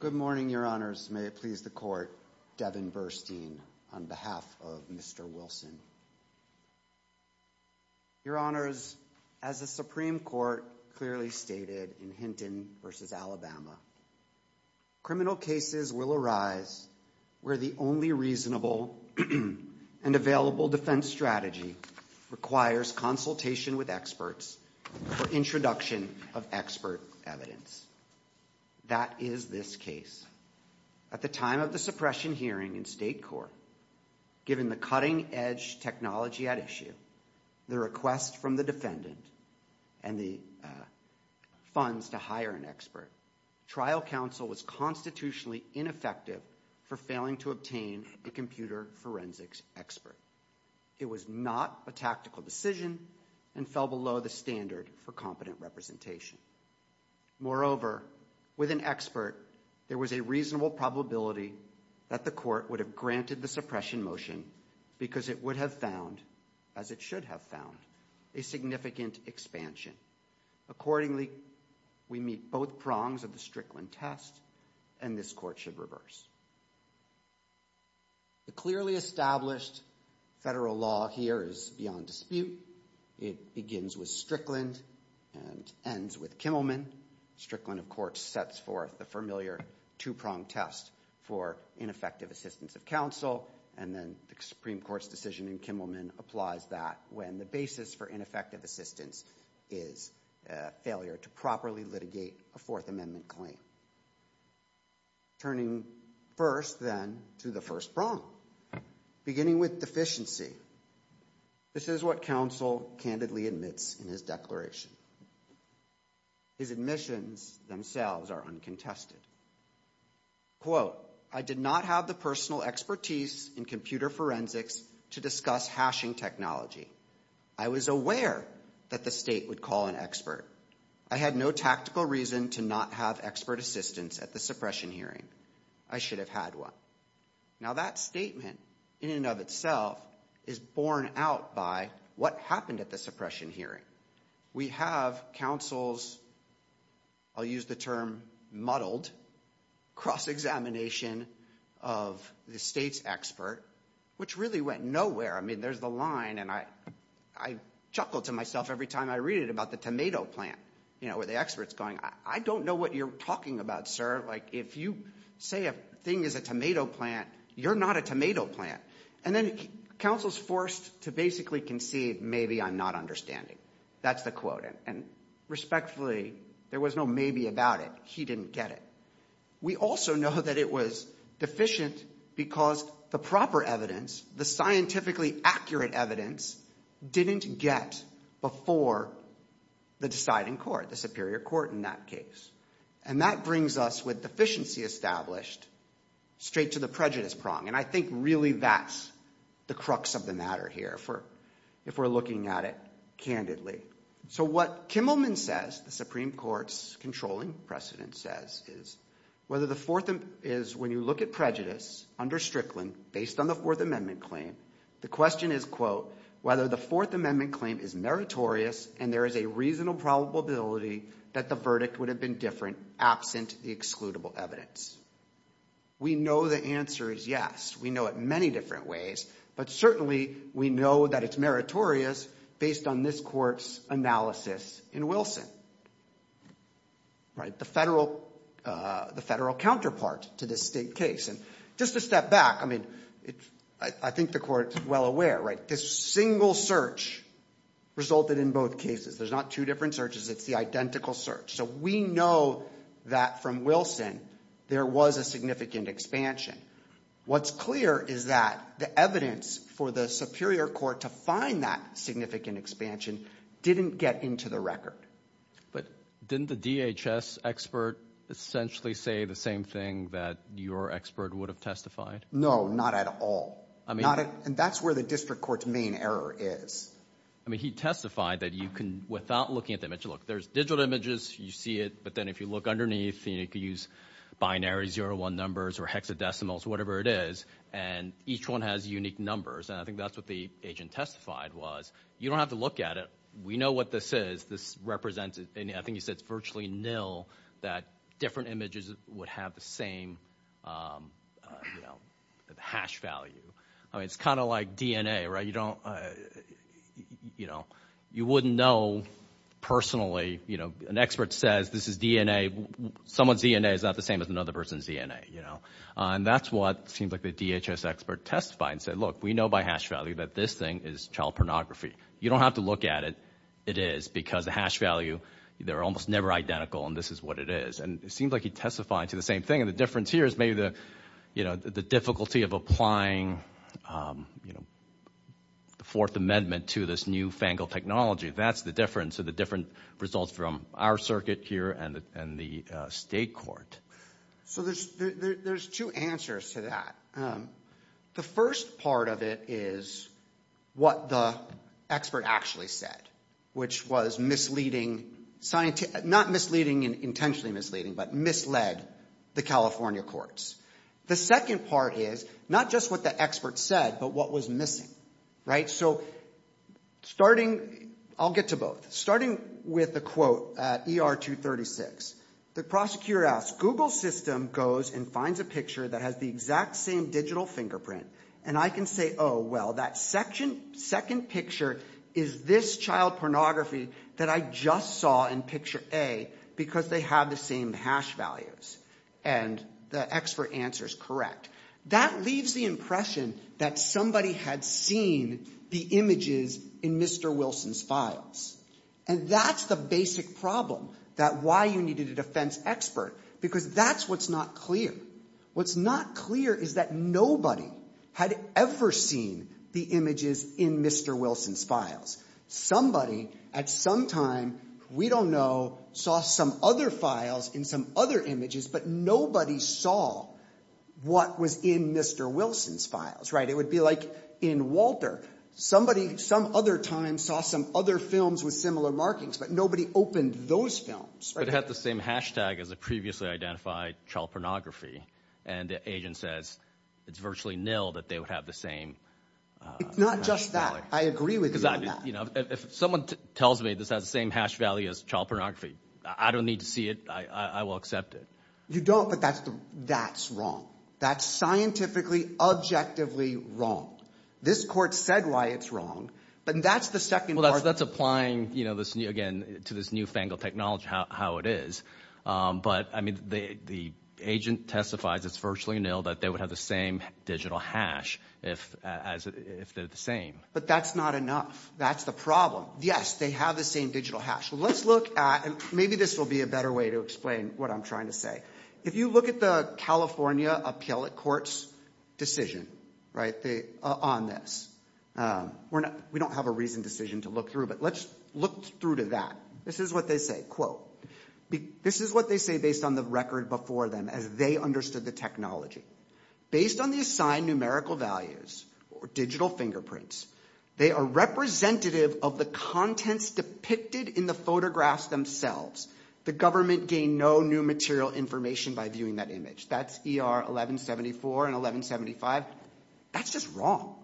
Good morning, Your Honors. May it please the Court, Devin Versteen, on behalf of Mr. Wilson. Your Honors, as the Supreme Court clearly stated in Hinton v. Alabama, criminal cases will arise where the only reasonable and available defense strategy requires consultation with experts for introduction of expert evidence. That is this case. At the time of the suppression hearing in State Court, given the cutting-edge technology at issue, the request from the for failing to obtain a computer forensics expert. It was not a tactical decision and fell below the standard for competent representation. Moreover, with an expert, there was a reasonable probability that the Court would have granted the suppression motion because it would have found, as it should have found, a significant expansion. Accordingly, we meet both prongs of the Strickland test, and this Court should reverse. The clearly established federal law here is beyond dispute. It begins with Strickland and ends with Kimmelman. Strickland, of course, sets forth the familiar two-prong test for ineffective assistance of counsel, and then the Supreme Court's decision in Kimmelman applies that when the basis for ineffective amendment claim. Turning first, then, to the first prong, beginning with deficiency. This is what counsel candidly admits in his declaration. His admissions themselves are uncontested. Quote, I did not have the personal expertise in computer forensics to discuss hashing technology. I was aware that the state would call an expert. I had no tactical reason to not have expert assistance at the suppression hearing. I should have had one. Now, that statement, in and of itself, is borne out by what happened at the suppression hearing. We have counsel's, I'll use the term muddled, cross-examination of the state's expert, which really went nowhere. I mean, there's a line, and I chuckle to myself every time I read it about the tomato plant, you know, where the expert's going, I don't know what you're talking about, sir. Like, if you say a thing is a tomato plant, you're not a tomato plant. And then counsel's forced to basically concede, maybe I'm not understanding. That's the quote. And respectfully, there was no maybe about it. He didn't get it. We also know that it was deficient because the proper evidence, the scientifically accurate evidence, didn't get before the deciding court, the superior court in that case. And that brings us with deficiency established straight to the prejudice prong. And I think really that's the crux of the matter here, if we're looking at it candidly. So what Kimmelman says, the Supreme Whether the fourth is, when you look at prejudice under Strickland, based on the Fourth Amendment claim, the question is, quote, whether the Fourth Amendment claim is meritorious and there is a reasonable probability that the verdict would have been different absent the excludable evidence. We know the answer is yes. We know it many different ways. But certainly, we know that it's meritorious based on this court's analysis in Wilson. Right. The federal counterpart to this state case. And just to step back, I mean, I think the court's well aware, right, this single search resulted in both cases. There's not two different searches. It's the identical search. So we know that from Wilson, there was a significant expansion. What's clear is that the evidence for the superior court to find that significant expansion didn't get into the record. But didn't the DHS expert essentially say the same thing that your expert would have testified? No, not at all. I mean, that's where the district court's main error is. I mean, he testified that you can, without looking at the image, look, there's digital images, you see it. But then if you look underneath, you could use binary zero one numbers or hexadecimals, whatever it is. And each one has unique numbers. And I think that's what the agent testified was. You don't have to look at it. We know what this is. This represents, I think he said it's virtually nil that different images would have the same hash value. I mean, it's kind of like DNA, right? You don't, you know, you wouldn't know personally. An expert says this is DNA. Someone's DNA is not the same as another person's DNA. And that's what seems like the DHS expert testified and said, look, we know by hash value that this thing is child pornography. You don't have to look at it. It is because the hash value, they're almost never identical. And this is what it is. And it seems like he testified to the same thing. And the difference here is maybe the, you know, the difficulty of applying, you know, the Fourth Amendment to this new FANGL technology. That's the difference. So the different results from our circuit here and the state court. So there's two answers to that. The first part of it is what the expert actually said, which was misleading, not misleading and intentionally misleading, but misled the California courts. The second part is not just what the expert said, but what was missing, right? So starting, I'll get to both. Starting with the quote at ER 236, the prosecutor asks, Google system goes and finds a picture that has the exact same digital fingerprint. And I can say, oh, well, that second picture is this child pornography that I just saw in picture A because they have the same hash values. And the expert answer is correct. That leaves the impression that somebody had seen the images in Mr. Wilson's files. And that's the basic problem that why you needed a defense expert, because that's what's not clear. What's not clear is that nobody had ever seen the images in Mr. Wilson's files. Somebody at some time, we don't know, saw some other files in some other images, but nobody saw what was in Mr. Wilson's files, right? It would be like in Walter. Somebody, some other time, saw some other films with similar markings, but nobody opened those films. But it had the same hashtag as a previously identified child pornography. And the agent says it's virtually nil that they would have the same. It's not just that. I agree with you on that. If someone tells me this has the same hash value as child pornography, I don't need to see it. I will accept it. You don't, but that's wrong. That's scientifically, objectively wrong. This court said why it's wrong, but that's the second part. Well, that's applying, you know, again, to this newfangled technology, how it is. But I mean, the agent testifies it's virtually nil that they would have the same digital hash if they're the same. But that's not enough. That's the problem. Yes, they have the same digital hash. Let's look at, and maybe this will be a better way to explain what I'm trying to say. If you look at the California appellate court's decision, right, on this, we don't have a reasoned decision to look through, but let's look through to that. This is what they say, quote, this is what they say based on the record before them as they understood the technology. Based on the assigned numerical values or digital fingerprints, they are representative of the contents depicted in the photographs themselves. The government gained no new material information by viewing that image. That's ER 1174 and 1175. That's just wrong.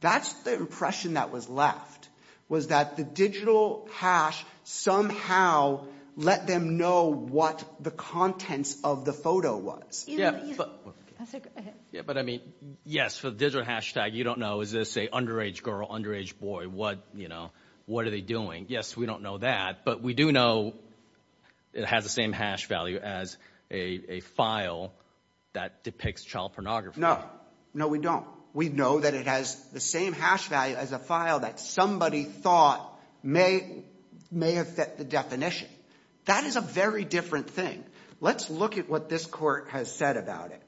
That's the impression that was left, was that the digital hash somehow let them know what the contents of the photo was. Yeah, but I mean, yes, for the digital hashtag, you don't know, is this a underage girl, underage boy? What, you know, what are they doing? Yes, we don't know that, but we do know it has the same hash value as a file that depicts child pornography. No, no, we don't. We know that it has the same hash value as a file that somebody thought may have fit the definition. That is a very different thing. Let's look at what this court has said about it.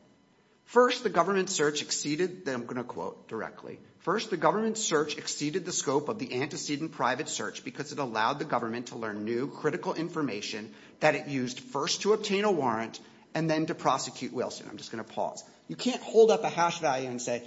First, the government search exceeded, then I'm going to quote directly, first, the government search exceeded the scope of the antecedent private search because it allowed the government to learn new critical information that it used first to obtain a warrant and then to prosecute Wilson. I'm just going to pause. You can't hold up a hash value and say,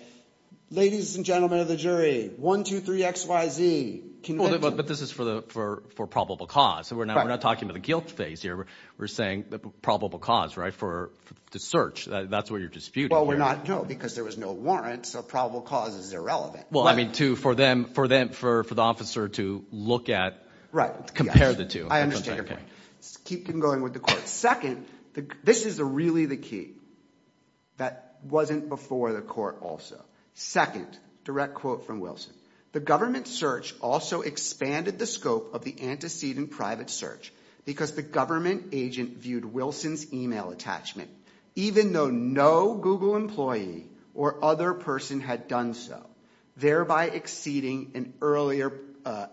ladies and gentlemen of the jury, one, two, three, X, Y, Z. But this is for probable cause, so we're not talking about the guilt phase here. We're saying the probable cause, right, for the search. That's what you're disputing. Well, we're not, no, because there was no warrant, so probable cause is irrelevant. Well, I mean, for the officer to look at, compare the two. Right. I understand. Keep going with the court. Second, this is really the key. That wasn't before the court also. Second, direct quote from Wilson, the government search also expanded the scope of the antecedent private search because the government agent viewed Wilson's email attachment even though no Google employee or other person had done so, thereby exceeding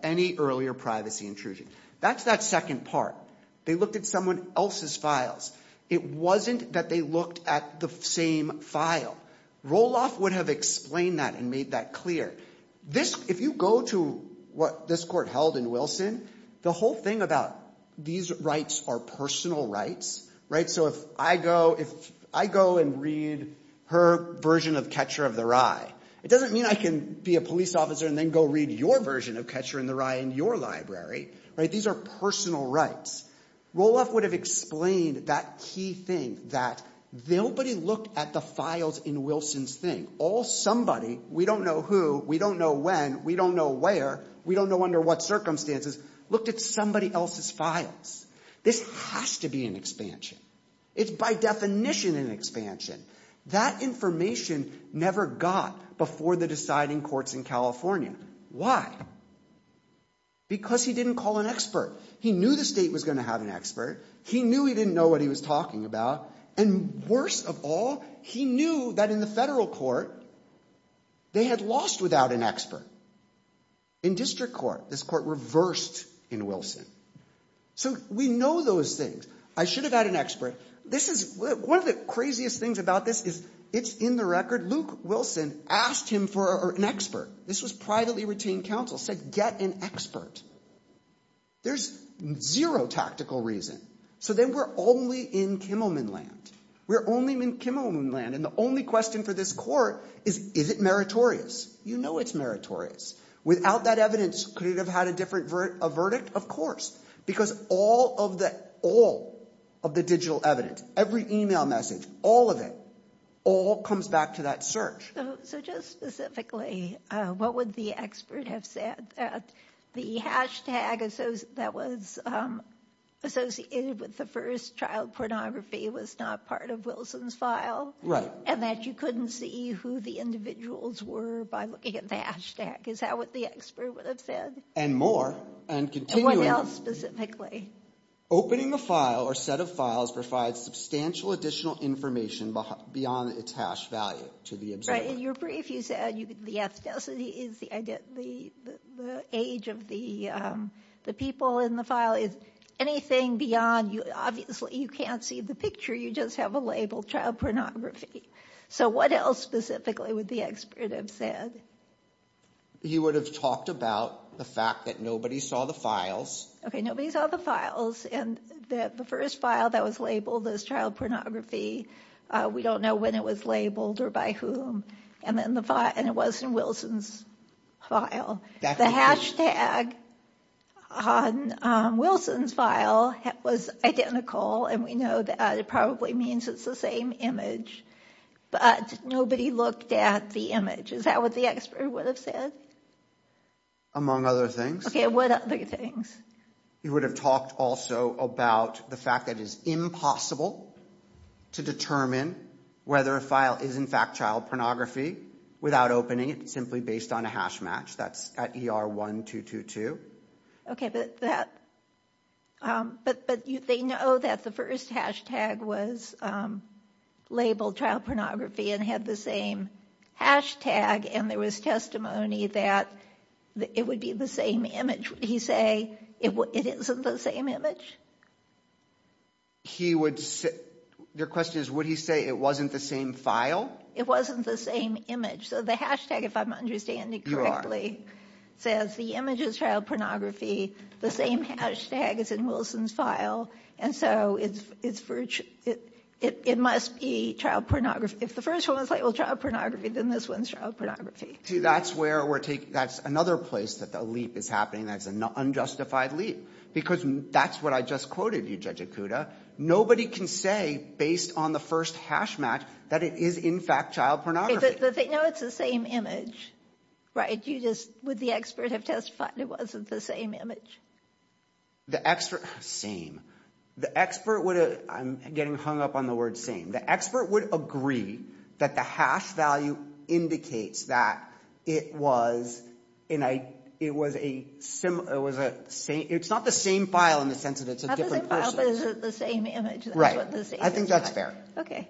any earlier privacy intrusion. That's that second part. They looked at someone else's files. It wasn't that they looked at the same file. Roloff would have explained that and made that clear. If you go to what this court held in Wilson, the whole thing about these rights are personal rights, right? So if I go and read her version of Catcher of the Rye, it doesn't mean I can be a police officer and then go read your version of Catcher in the Rye in your library, right? These are personal rights. Roloff would have explained that key thing that nobody looked at the files in Wilson's thing. All somebody, we don't know who, we don't know when, we don't know where, we don't know under what circumstances, looked at somebody else's files. This has to be an expansion. It's by definition an expansion. That information never got before the deciding courts in California. Why? Because he didn't call an expert. He knew the state was going to have an expert. He knew he didn't know what he was talking about. And worst of all, he knew that in the district court, this court reversed in Wilson. So we know those things. I should have had an expert. This is one of the craziest things about this is it's in the record. Luke Wilson asked him for an expert. This was privately retained counsel, said get an expert. There's zero tactical reason. So then we're only in Kimmelman land. We're only in Kimmelman land and the only question for this is, is it meritorious? You know it's meritorious. Without that evidence, could it have had a different verdict? Of course. Because all of the digital evidence, every email message, all of it, all comes back to that search. So just specifically, what would the expert have said that the hashtag that was associated with the first child pornography was not part of Wilson's file? Right. And that you couldn't see who the individuals were by looking at the hashtag. Is that what the expert would have said? And more. And continuing. And what else specifically? Opening the file or set of files provides substantial additional information beyond its hash value to the observer. Right. In your brief, you said the ethnicity is the age of the people in the file. Anything beyond, obviously you can't see the picture, you just have a label, child pornography. So what else specifically would the expert have said? He would have talked about the fact that nobody saw the files. Okay. Nobody saw the files. And the first file that was labeled as child pornography, we don't know when it was labeled or by whom. And it wasn't Wilson's file. The hashtag on Wilson's file was identical. And we know that it probably means it's the same image. But nobody looked at the image. Is that what the expert would have said? Among other things. Okay. What other things? He would have talked also about the fact that it's impossible to determine whether a file is in fact child pornography without opening it, simply based on a hash match. That's at ER1222. Okay. But they know that the first hashtag was labeled child pornography and had the same hashtag. And there was testimony that it would be the same image. Would he say it isn't the same image? Your question is, would he say it wasn't the same file? It wasn't the same image. So the hashtag, if I'm understanding correctly, says the image is child pornography. The same hashtag is in Wilson's file. And so it must be child pornography. If the first one was labeled child pornography, then this one is child pornography. See, that's where we're taking, that's another place that the leap is happening. That's an unjustified leap. Because that's what I just quoted you, Judge Ikuda. Nobody can say, based on the first hash match, that it is in fact child pornography. But they know it's the same image, right? You just, would the expert have testified it wasn't the same image? The expert, same. The expert would have, I'm getting hung up on the word same. The expert would agree that the hash value indicates that it was, it was a, it's not the same file in the I think that's fair. Okay.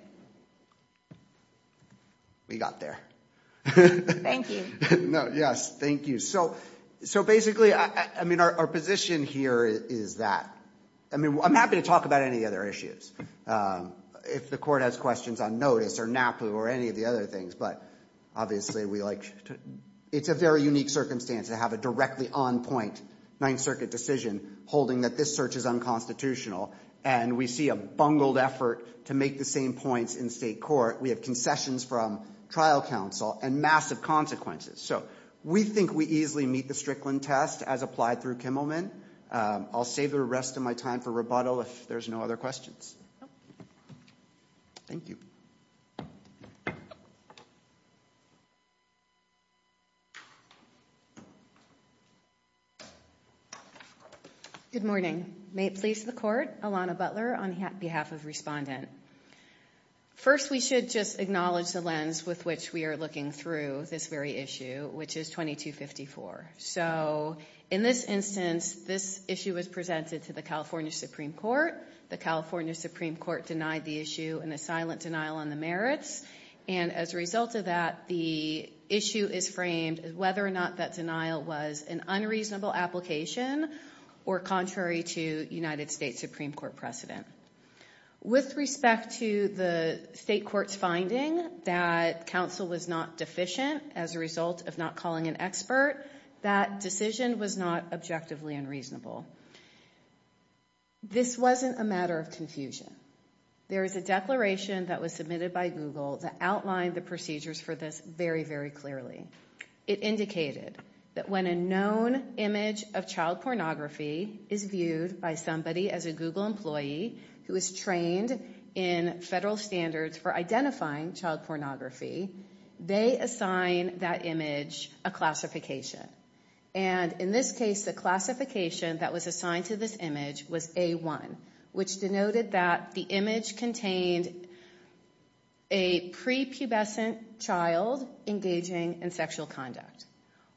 We got there. Thank you. No, yes. Thank you. So, so basically, I mean, our position here is that, I mean, I'm happy to talk about any other issues. If the court has questions on notice or NAPU or any of the other things, but obviously we like to, it's a very unique circumstance to have a directly on point Ninth Circuit decision holding that this search is unconstitutional. And we see a bungled effort to make the same points in state court. We have concessions from trial counsel and massive consequences. So we think we easily meet the Strickland test as applied through Kimmelman. I'll save the rest of my time for rebuttal if there's no other questions. Thank you. Good morning. May it please the court, Alana Butler on behalf of respondent. First, we should just acknowledge the lens with which we are looking through this very issue, which is 2254. So in this instance, this issue was presented to the California Supreme Court, denied the issue in a silent denial on the merits. And as a result of that, the issue is framed as whether or not that denial was an unreasonable application or contrary to United States Supreme Court precedent. With respect to the state court's finding that counsel was not deficient as a result of not calling an expert, that decision was not objectively unreasonable. This wasn't a matter of confusion. There is a declaration that was submitted by Google that outlined the procedures for this very, very clearly. It indicated that when a known image of child pornography is viewed by somebody as a Google employee who is trained in federal standards for identifying child pornography, they assign that image a classification. And in this case, the classification that was assigned to this image was A1, which denoted that the image contained a prepubescent child engaging in sexual conduct.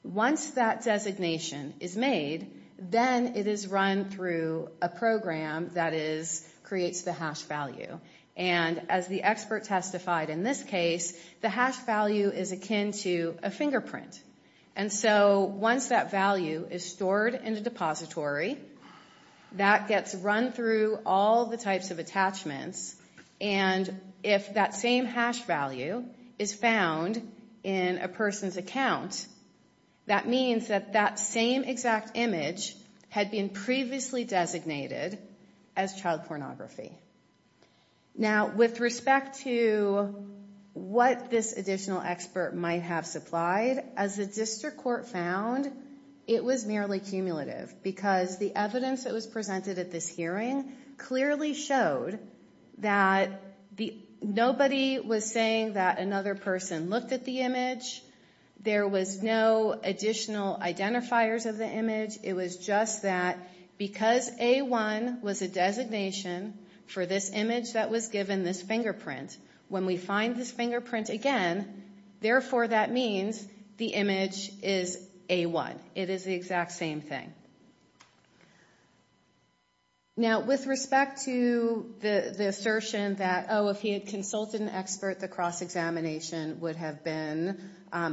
Once that designation is made, then it is run through a program that creates the hash value. And as the expert testified in this case, the hash value is akin to a fingerprint. And so once that value is stored in a depository, that gets run through all the types of attachments. And if that same hash value is found in a person's account, that means that that same exact image had been previously designated as child pornography. Now, with respect to what this additional expert might have supplied, as the district court found, it was merely cumulative because the evidence that presented at this hearing clearly showed that nobody was saying that another person looked at the image. There was no additional identifiers of the image. It was just that because A1 was a designation for this image that was given this fingerprint, when we find this fingerprint again, therefore, that means the image is A1. It is the exact same thing. Now, with respect to the assertion that, oh, if he had consulted an expert, the cross-examination would have been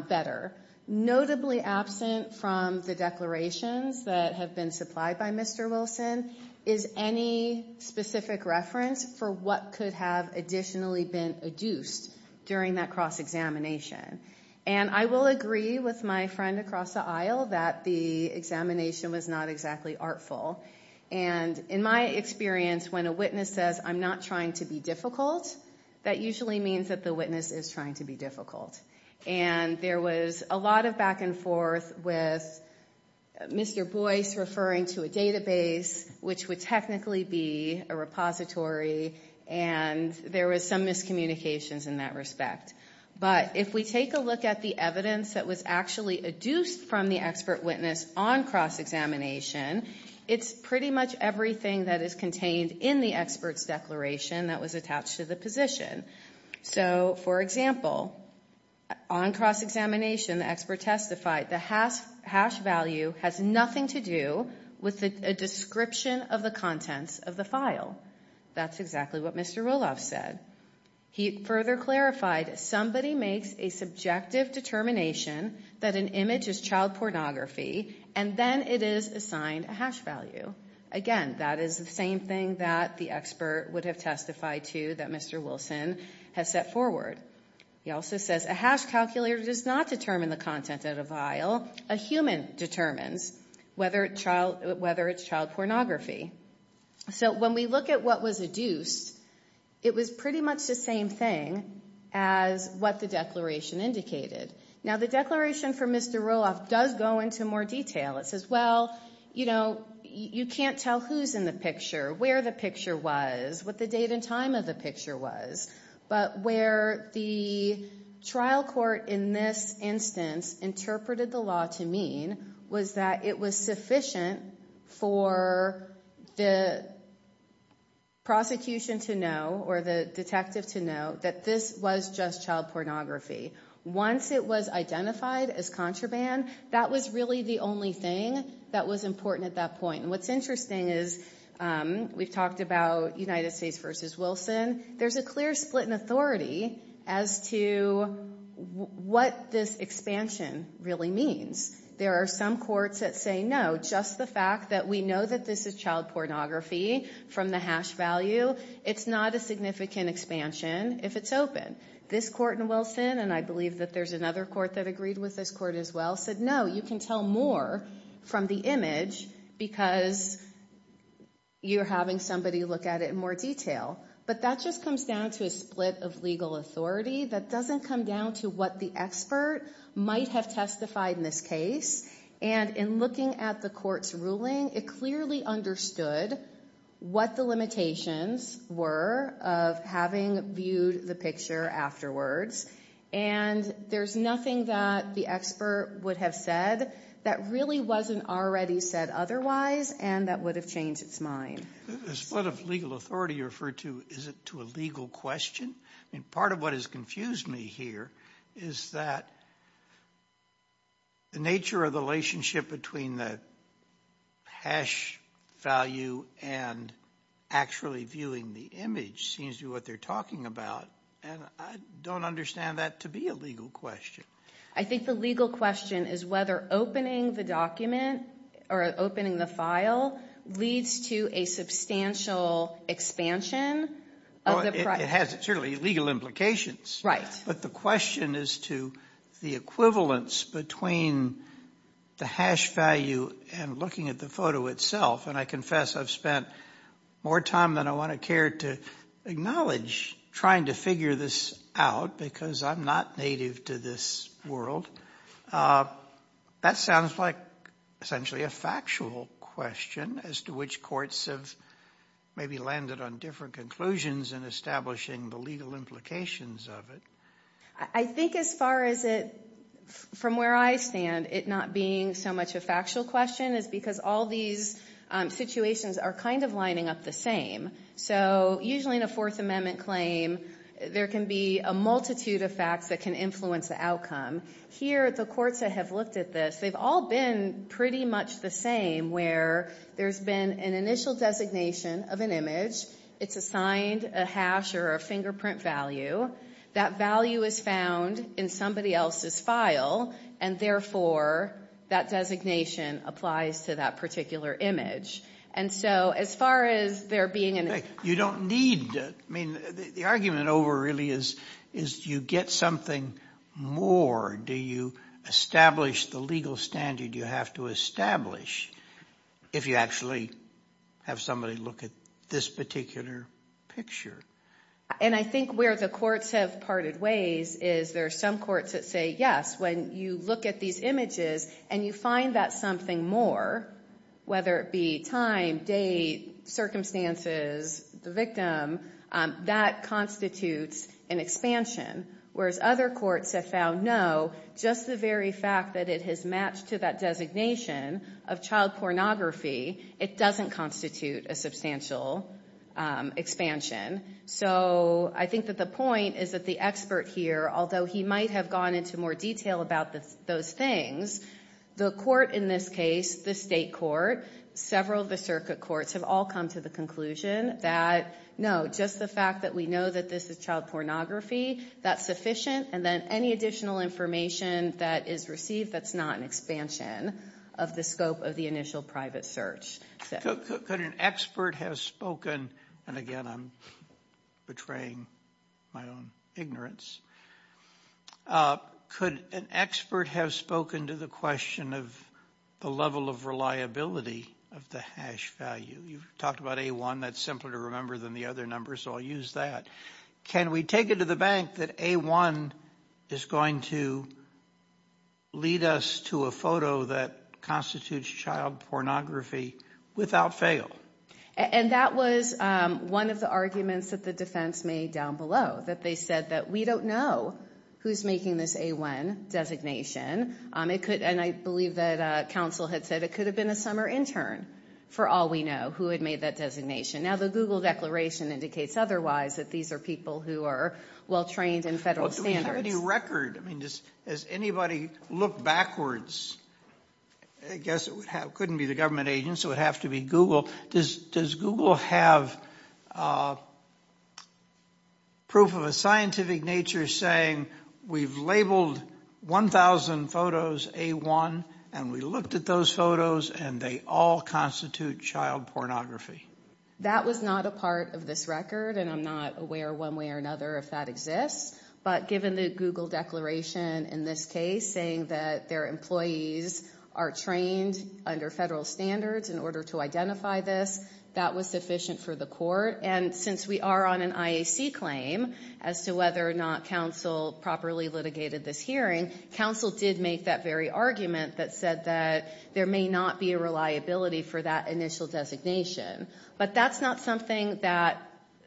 better, notably absent from the declarations that have been supplied by Mr. Wilson is any specific reference for what could have additionally been adduced during that cross-examination. And I will agree with my friend across the aisle that the examination was not exactly artful. And in my experience, when a witness says, I'm not trying to be difficult, that usually means that the witness is trying to be difficult. And there was a lot of back and forth with Mr. Boyce referring to a database, which would technically be a repository. And there was some miscommunications in that respect. But if we take a look at the evidence that was actually adduced from the expert witness on cross-examination, it's pretty much everything that is contained in the expert's declaration that was attached to the position. So, for example, on cross-examination, the expert testified the hash value has nothing to do with a description of the contents of the file. That's exactly what Mr. Roloff said. He further clarified, somebody makes a subjective determination that an image is child pornography, and then it is assigned a hash value. Again, that is the same thing that the expert would have testified to that Mr. Wilson has set forward. He also says a hash calculator does not determine the content of a file. A human determines whether it's child pornography. So when we look at what was adduced, it was pretty much the same thing as what the declaration indicated. Now, the declaration from Mr. Roloff does go into more detail. It says, well, you know, you can't tell who's in the picture, where the picture was, what the date and time of the picture was. But where the trial court in this instance interpreted the law to mean was that it was sufficient for the prosecution to know or the detective to know that this was just child pornography. Once it was identified as contraband, that was really the only thing that was important at that point. And what's interesting is we've talked about United States v. Wilson. There's a clear split in authority as to what this expansion really means. There are some courts that say, no, just the fact that we know that this is child pornography from the hash value, it's not a significant expansion if it's open. This court in Wilson, and I believe that there's another court that agreed with this court as well, said, no, you can tell more from the image because you're having somebody look at it in more detail. But that just comes down to a split of legal authority. That doesn't come down to what the expert might have testified in this case. And in looking at the court's ruling, it clearly understood what the limitations were of having viewed the picture afterwards. And there's nothing that the expert would have said that really wasn't already said otherwise and that would have changed its mind. The split of legal authority you referred to, is it to a legal question? I mean, part of what has confused me here is that the nature of the relationship between the hash value and actually viewing the image seems to be what they're talking about. And I don't understand that to be a legal question. I think the legal question is whether opening the document or opening the file leads to a substantial expansion. It has certainly legal implications. But the question is to the equivalence between the hash value and looking at the photo itself. And I confess I've spent more time than I want to care to acknowledge trying to figure this out because I'm not native to this world. That sounds like essentially a factual question as to which courts have maybe landed on different conclusions in establishing the legal implications of it. I think as far as it, from where I stand, it not being so much a factual question is because all these situations are kind of lining up the same. So usually in a Fourth Amendment claim there can be a multitude of facts that can influence the outcome. Here the courts that have looked at this, they've all been pretty much the same where there's been an initial designation of an image. It's assigned a hash or a fingerprint value. That value is found in somebody else's file and therefore that designation applies to that particular image. And so as far as there being an... You don't need, I mean the argument over really is you get something more. Do you establish the legal standard you have to establish if you actually have somebody look at this particular picture? And I think where the courts have parted ways is there are some courts that say yes, when you look at these images and you find that something more, whether it be time, date, circumstances, the victim, that constitutes an expansion. Whereas other courts have found no, just the very fact that it has matched to that designation of child pornography, it doesn't constitute a substantial expansion. So I think that the point is that the expert here, although he might have gone into more detail about those things, the court in this case, the state court, several of the circuit courts have all come to the conclusion that no, just the fact that we know that this is child pornography, that's sufficient. And then any additional information that is received that's not an expansion of the scope of the initial private search. Could an expert have spoken, and again I'm betraying my own ignorance, could an expert have spoken to the question of the level of reliability of the hash value? You've talked about A1, that's simpler to remember than the other numbers, so I'll use that. Can we take it to the bank that A1 is going to lead us to a photo that constitutes child pornography without fail? And that was one of the arguments that the defense made down below, that they said that we don't know who's making this A1 designation. And I believe that counsel had said it could have been a summer intern, for all we know, who had made that designation. Now the Google declaration indicates otherwise, that these are people who are well-trained in federal standards. Do we have any record? I mean, does anybody look backwards? I guess it wouldn't be government agents, it would have to be Google. Does Google have proof of a scientific nature saying we've labeled 1,000 photos A1, and we looked at those photos, and they all constitute child pornography? That was not a part of this record, and I'm not aware one way or another if that exists. But given the Google declaration in this case saying that their employees are trained under federal standards in order to identify this, that was sufficient for the court. And since we are on an IAC claim as to whether or not counsel properly litigated this hearing, counsel did make that very argument that said that there may not be a reliability for that initial designation. But that's not something that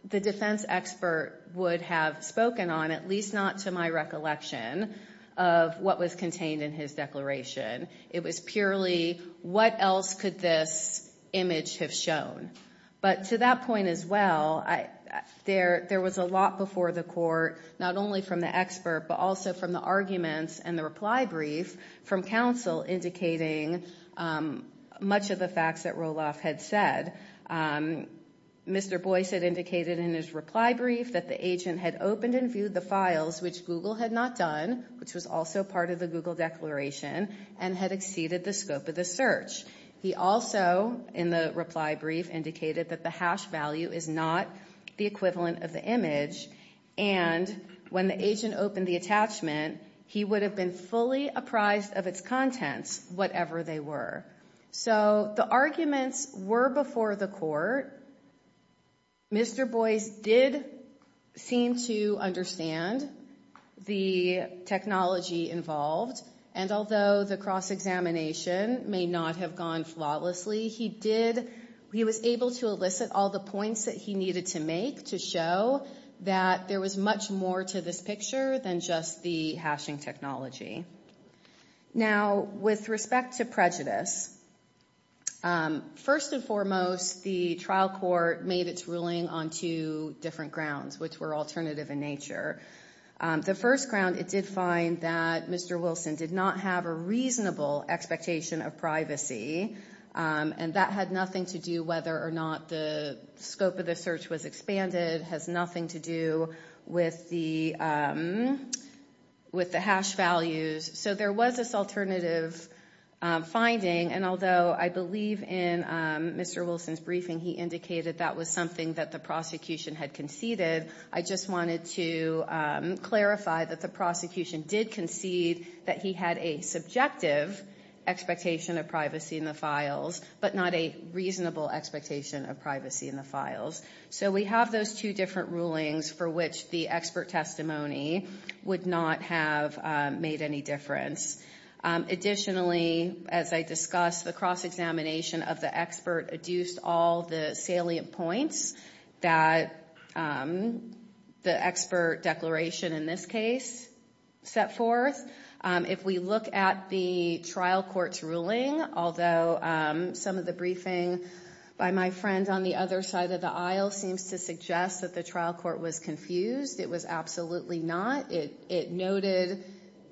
the defense expert would have spoken on, at least not to my recollection of what was contained in his declaration. It was purely what else could this image have shown. But to that point as well, there was a lot before the court, not only from the expert, but also from the arguments and the reply brief from counsel indicating much of the facts that Roloff had said. Mr. Boyce had indicated in his reply brief that the agent had opened and viewed the files, which Google had not done, which was also part of the Google declaration, and had exceeded the scope of the search. He also, in the reply brief, indicated that the hash value is not the equivalent of the image, and when the agent opened the attachment, he would have been fully apprised of its contents, whatever they were. So the arguments were before the court. Mr. Boyce did seem to understand the technology involved, and although the cross-examination may not have gone flawlessly, he was able to elicit all the points that he needed to make to show that there was much more to this picture than just the hashing technology. Now, with respect to prejudice, first and foremost, the trial court made its ruling on two different grounds, which were alternative in nature. The first ground, it did find that Mr. Wilson did not have a reasonable expectation of privacy, and that had nothing to do whether or not scope of the search was expanded, has nothing to do with the hash values. So there was this alternative finding, and although I believe in Mr. Wilson's briefing, he indicated that was something that the prosecution had conceded, I just wanted to clarify that the prosecution did concede that he had a subjective expectation of privacy in the files, but not a reasonable expectation of privacy in the files. So we have those two different rulings for which the expert testimony would not have made any difference. Additionally, as I discussed, the cross-examination of the expert adduced all the salient points that the expert declaration in this case set forth. If we look at the trial court's ruling, although some of the briefing by my friend on the other side of the aisle seems to suggest that the trial court was confused, it was absolutely not. It noted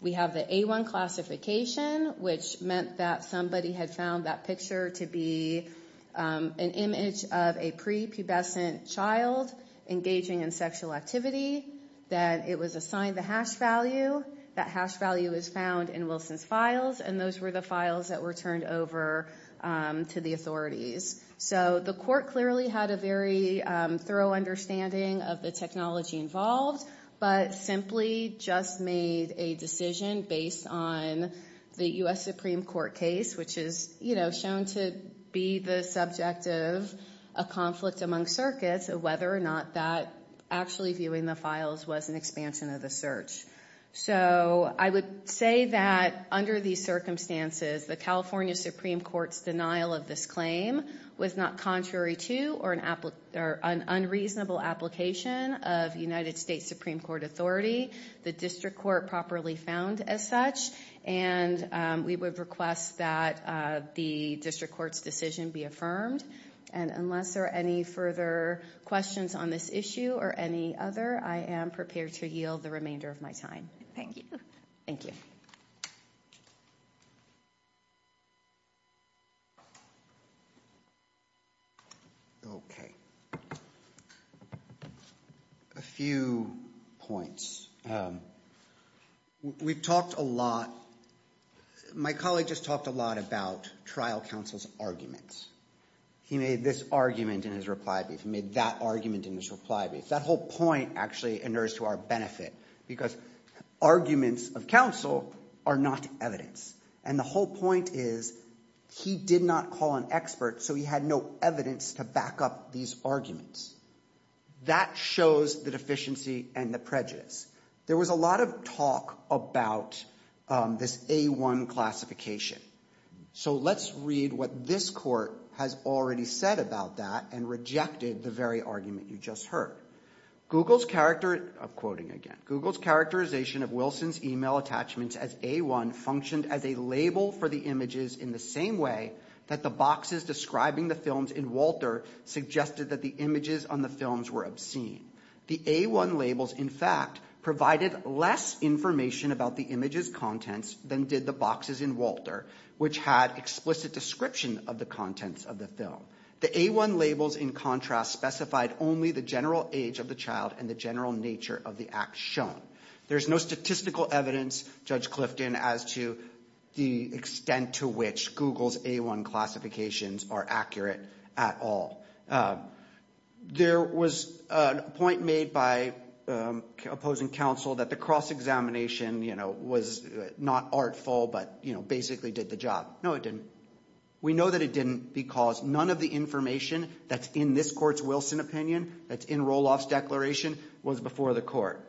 we have the A1 classification, which meant that somebody had found that picture to be an image of a prepubescent child engaging in sexual activity, that it was assigned the hash value, that hash value is found in Wilson's files, and those were the files that were turned over to the authorities. So the court clearly had a very thorough understanding of the technology involved, but simply just made a decision based on the U.S. Supreme Court case, which is, you know, shown to be the subject of a conflict among circuits of whether or not that actually viewing the files was an expansion of the search. So I would say that under these circumstances, the California Supreme Court's denial of this claim was not contrary to or an unreasonable application of United States Supreme Court authority. The district court properly found as such, and we would request that the district court's decision be affirmed, and unless there further questions on this issue or any other, I am prepared to yield the remainder of my time. Thank you. Thank you. Okay. A few points. We've talked a lot, my colleague just talked a lot about trial counsel's arguments. He made this argument in his reply brief. He made that argument in his reply brief. That whole point actually inures to our benefit, because arguments of counsel are not evidence, and the whole point is he did not call an expert, so he had no evidence to back up these arguments. That shows the deficiency and the prejudice. There was a lot of talk about this A1 classification. So let's read what this court has already said about that and rejected the very argument you just heard. Quoting again, Google's characterization of Wilson's email attachments as A1 functioned as a label for the images in the same way that the boxes describing the films in Walter suggested that the images on the films were obscene. The A1 labels, in fact, provided less information about the images' contents than did the boxes in Walter, which had explicit description of the contents of the film. The A1 labels, in contrast, specified only the general age of the child and the general nature of the act shown. There's no statistical evidence, Judge Clifton, as to the extent to which Google's A1 classifications are accurate at all. There was a point made by opposing counsel that the cross-examination, you know, was not artful, but, you know, basically did the job. No, it didn't. We know that it didn't because none of the information that's in this court's Wilson opinion, that's in Roloff's declaration, was before the court.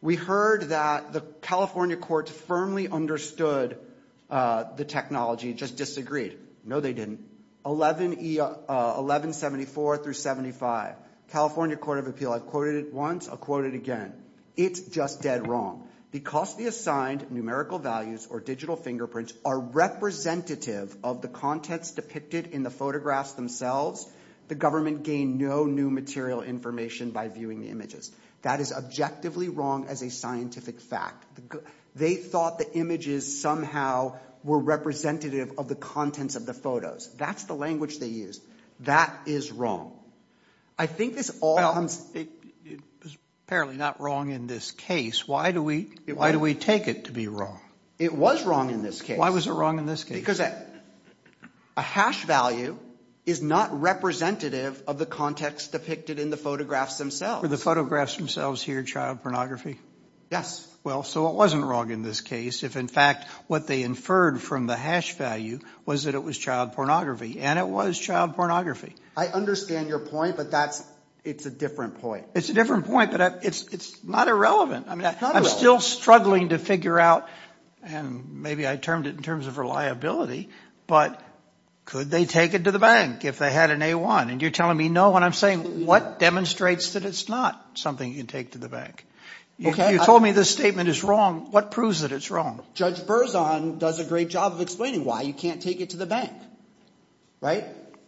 We heard that the California courts firmly understood the technology, just like the California court of appeals. I've quoted it once, I'll quote it again. It's just dead wrong. Because the assigned numerical values or digital fingerprints are representative of the contents depicted in the photographs themselves, the government gained no new material information by viewing the images. That is objectively wrong as a scientific fact. They thought the images somehow were representative of the contents of the photos. That's the language they used. That is wrong. I think this all comes, it was apparently not wrong in this case. Why do we, why do we take it to be wrong? It was wrong in this case. Why was it wrong in this case? Because a hash value is not representative of the context depicted in the photographs themselves. Were the photographs themselves here child pornography? Yes. Well, so it wasn't wrong in this case, if in fact what they inferred from the hash value was that it was child pornography, and it was child pornography. I understand your point, but that's, it's a different point. It's a different point, but it's not irrelevant. I mean, I'm still struggling to figure out, and maybe I termed it in terms of reliability, but could they take it to the bank if they had an A1? And you're telling me no, when I'm saying what demonstrates that it's not something you can take to the bank? If you told me this statement is wrong, what proves that it's wrong? Judge Thompson, right?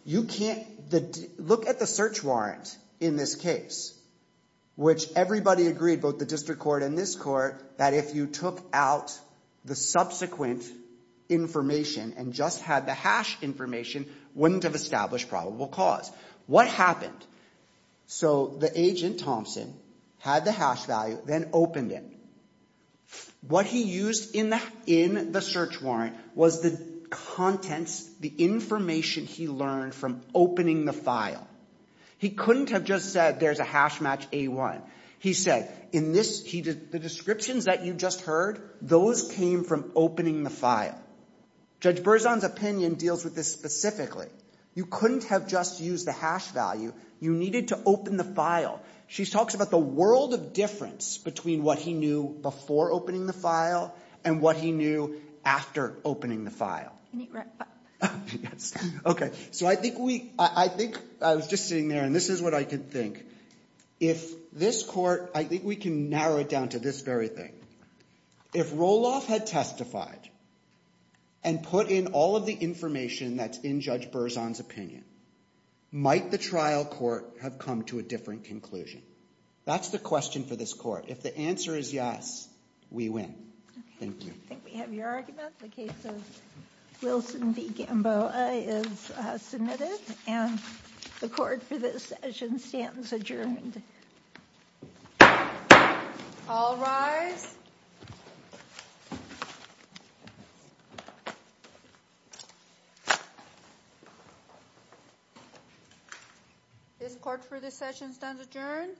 You can't, the, look at the search warrant in this case, which everybody agreed, both the district court and this court, that if you took out the subsequent information and just had the hash information, wouldn't have established probable cause. What happened? So the agent Thompson had the hash value, then opened it. What he used in the, in the search warrant was the contents, the information he learned from opening the file. He couldn't have just said, there's a hash match A1. He said, in this, he did, the descriptions that you just heard, those came from opening the file. Judge Berzon's opinion deals with this specifically. You couldn't have just used the hash value. You needed to open the file. She talks about the world of difference between what he knew before opening the file and what he knew after opening the file. Can you wrap up? Yes. Okay. So I think we, I think, I was just sitting there and this is what I could think. If this court, I think we can narrow it down to this very thing. If Roloff had testified and put in all of the information that's in Judge Berzon's opinion, might the trial court have come to a different conclusion? That's the question for this court. If the answer is yes, we win. Thank you. I think we have your argument. The case of Wilson v. Gamboa is submitted. And the court for this session stands adjourned. All rise. This court for this session stands adjourned.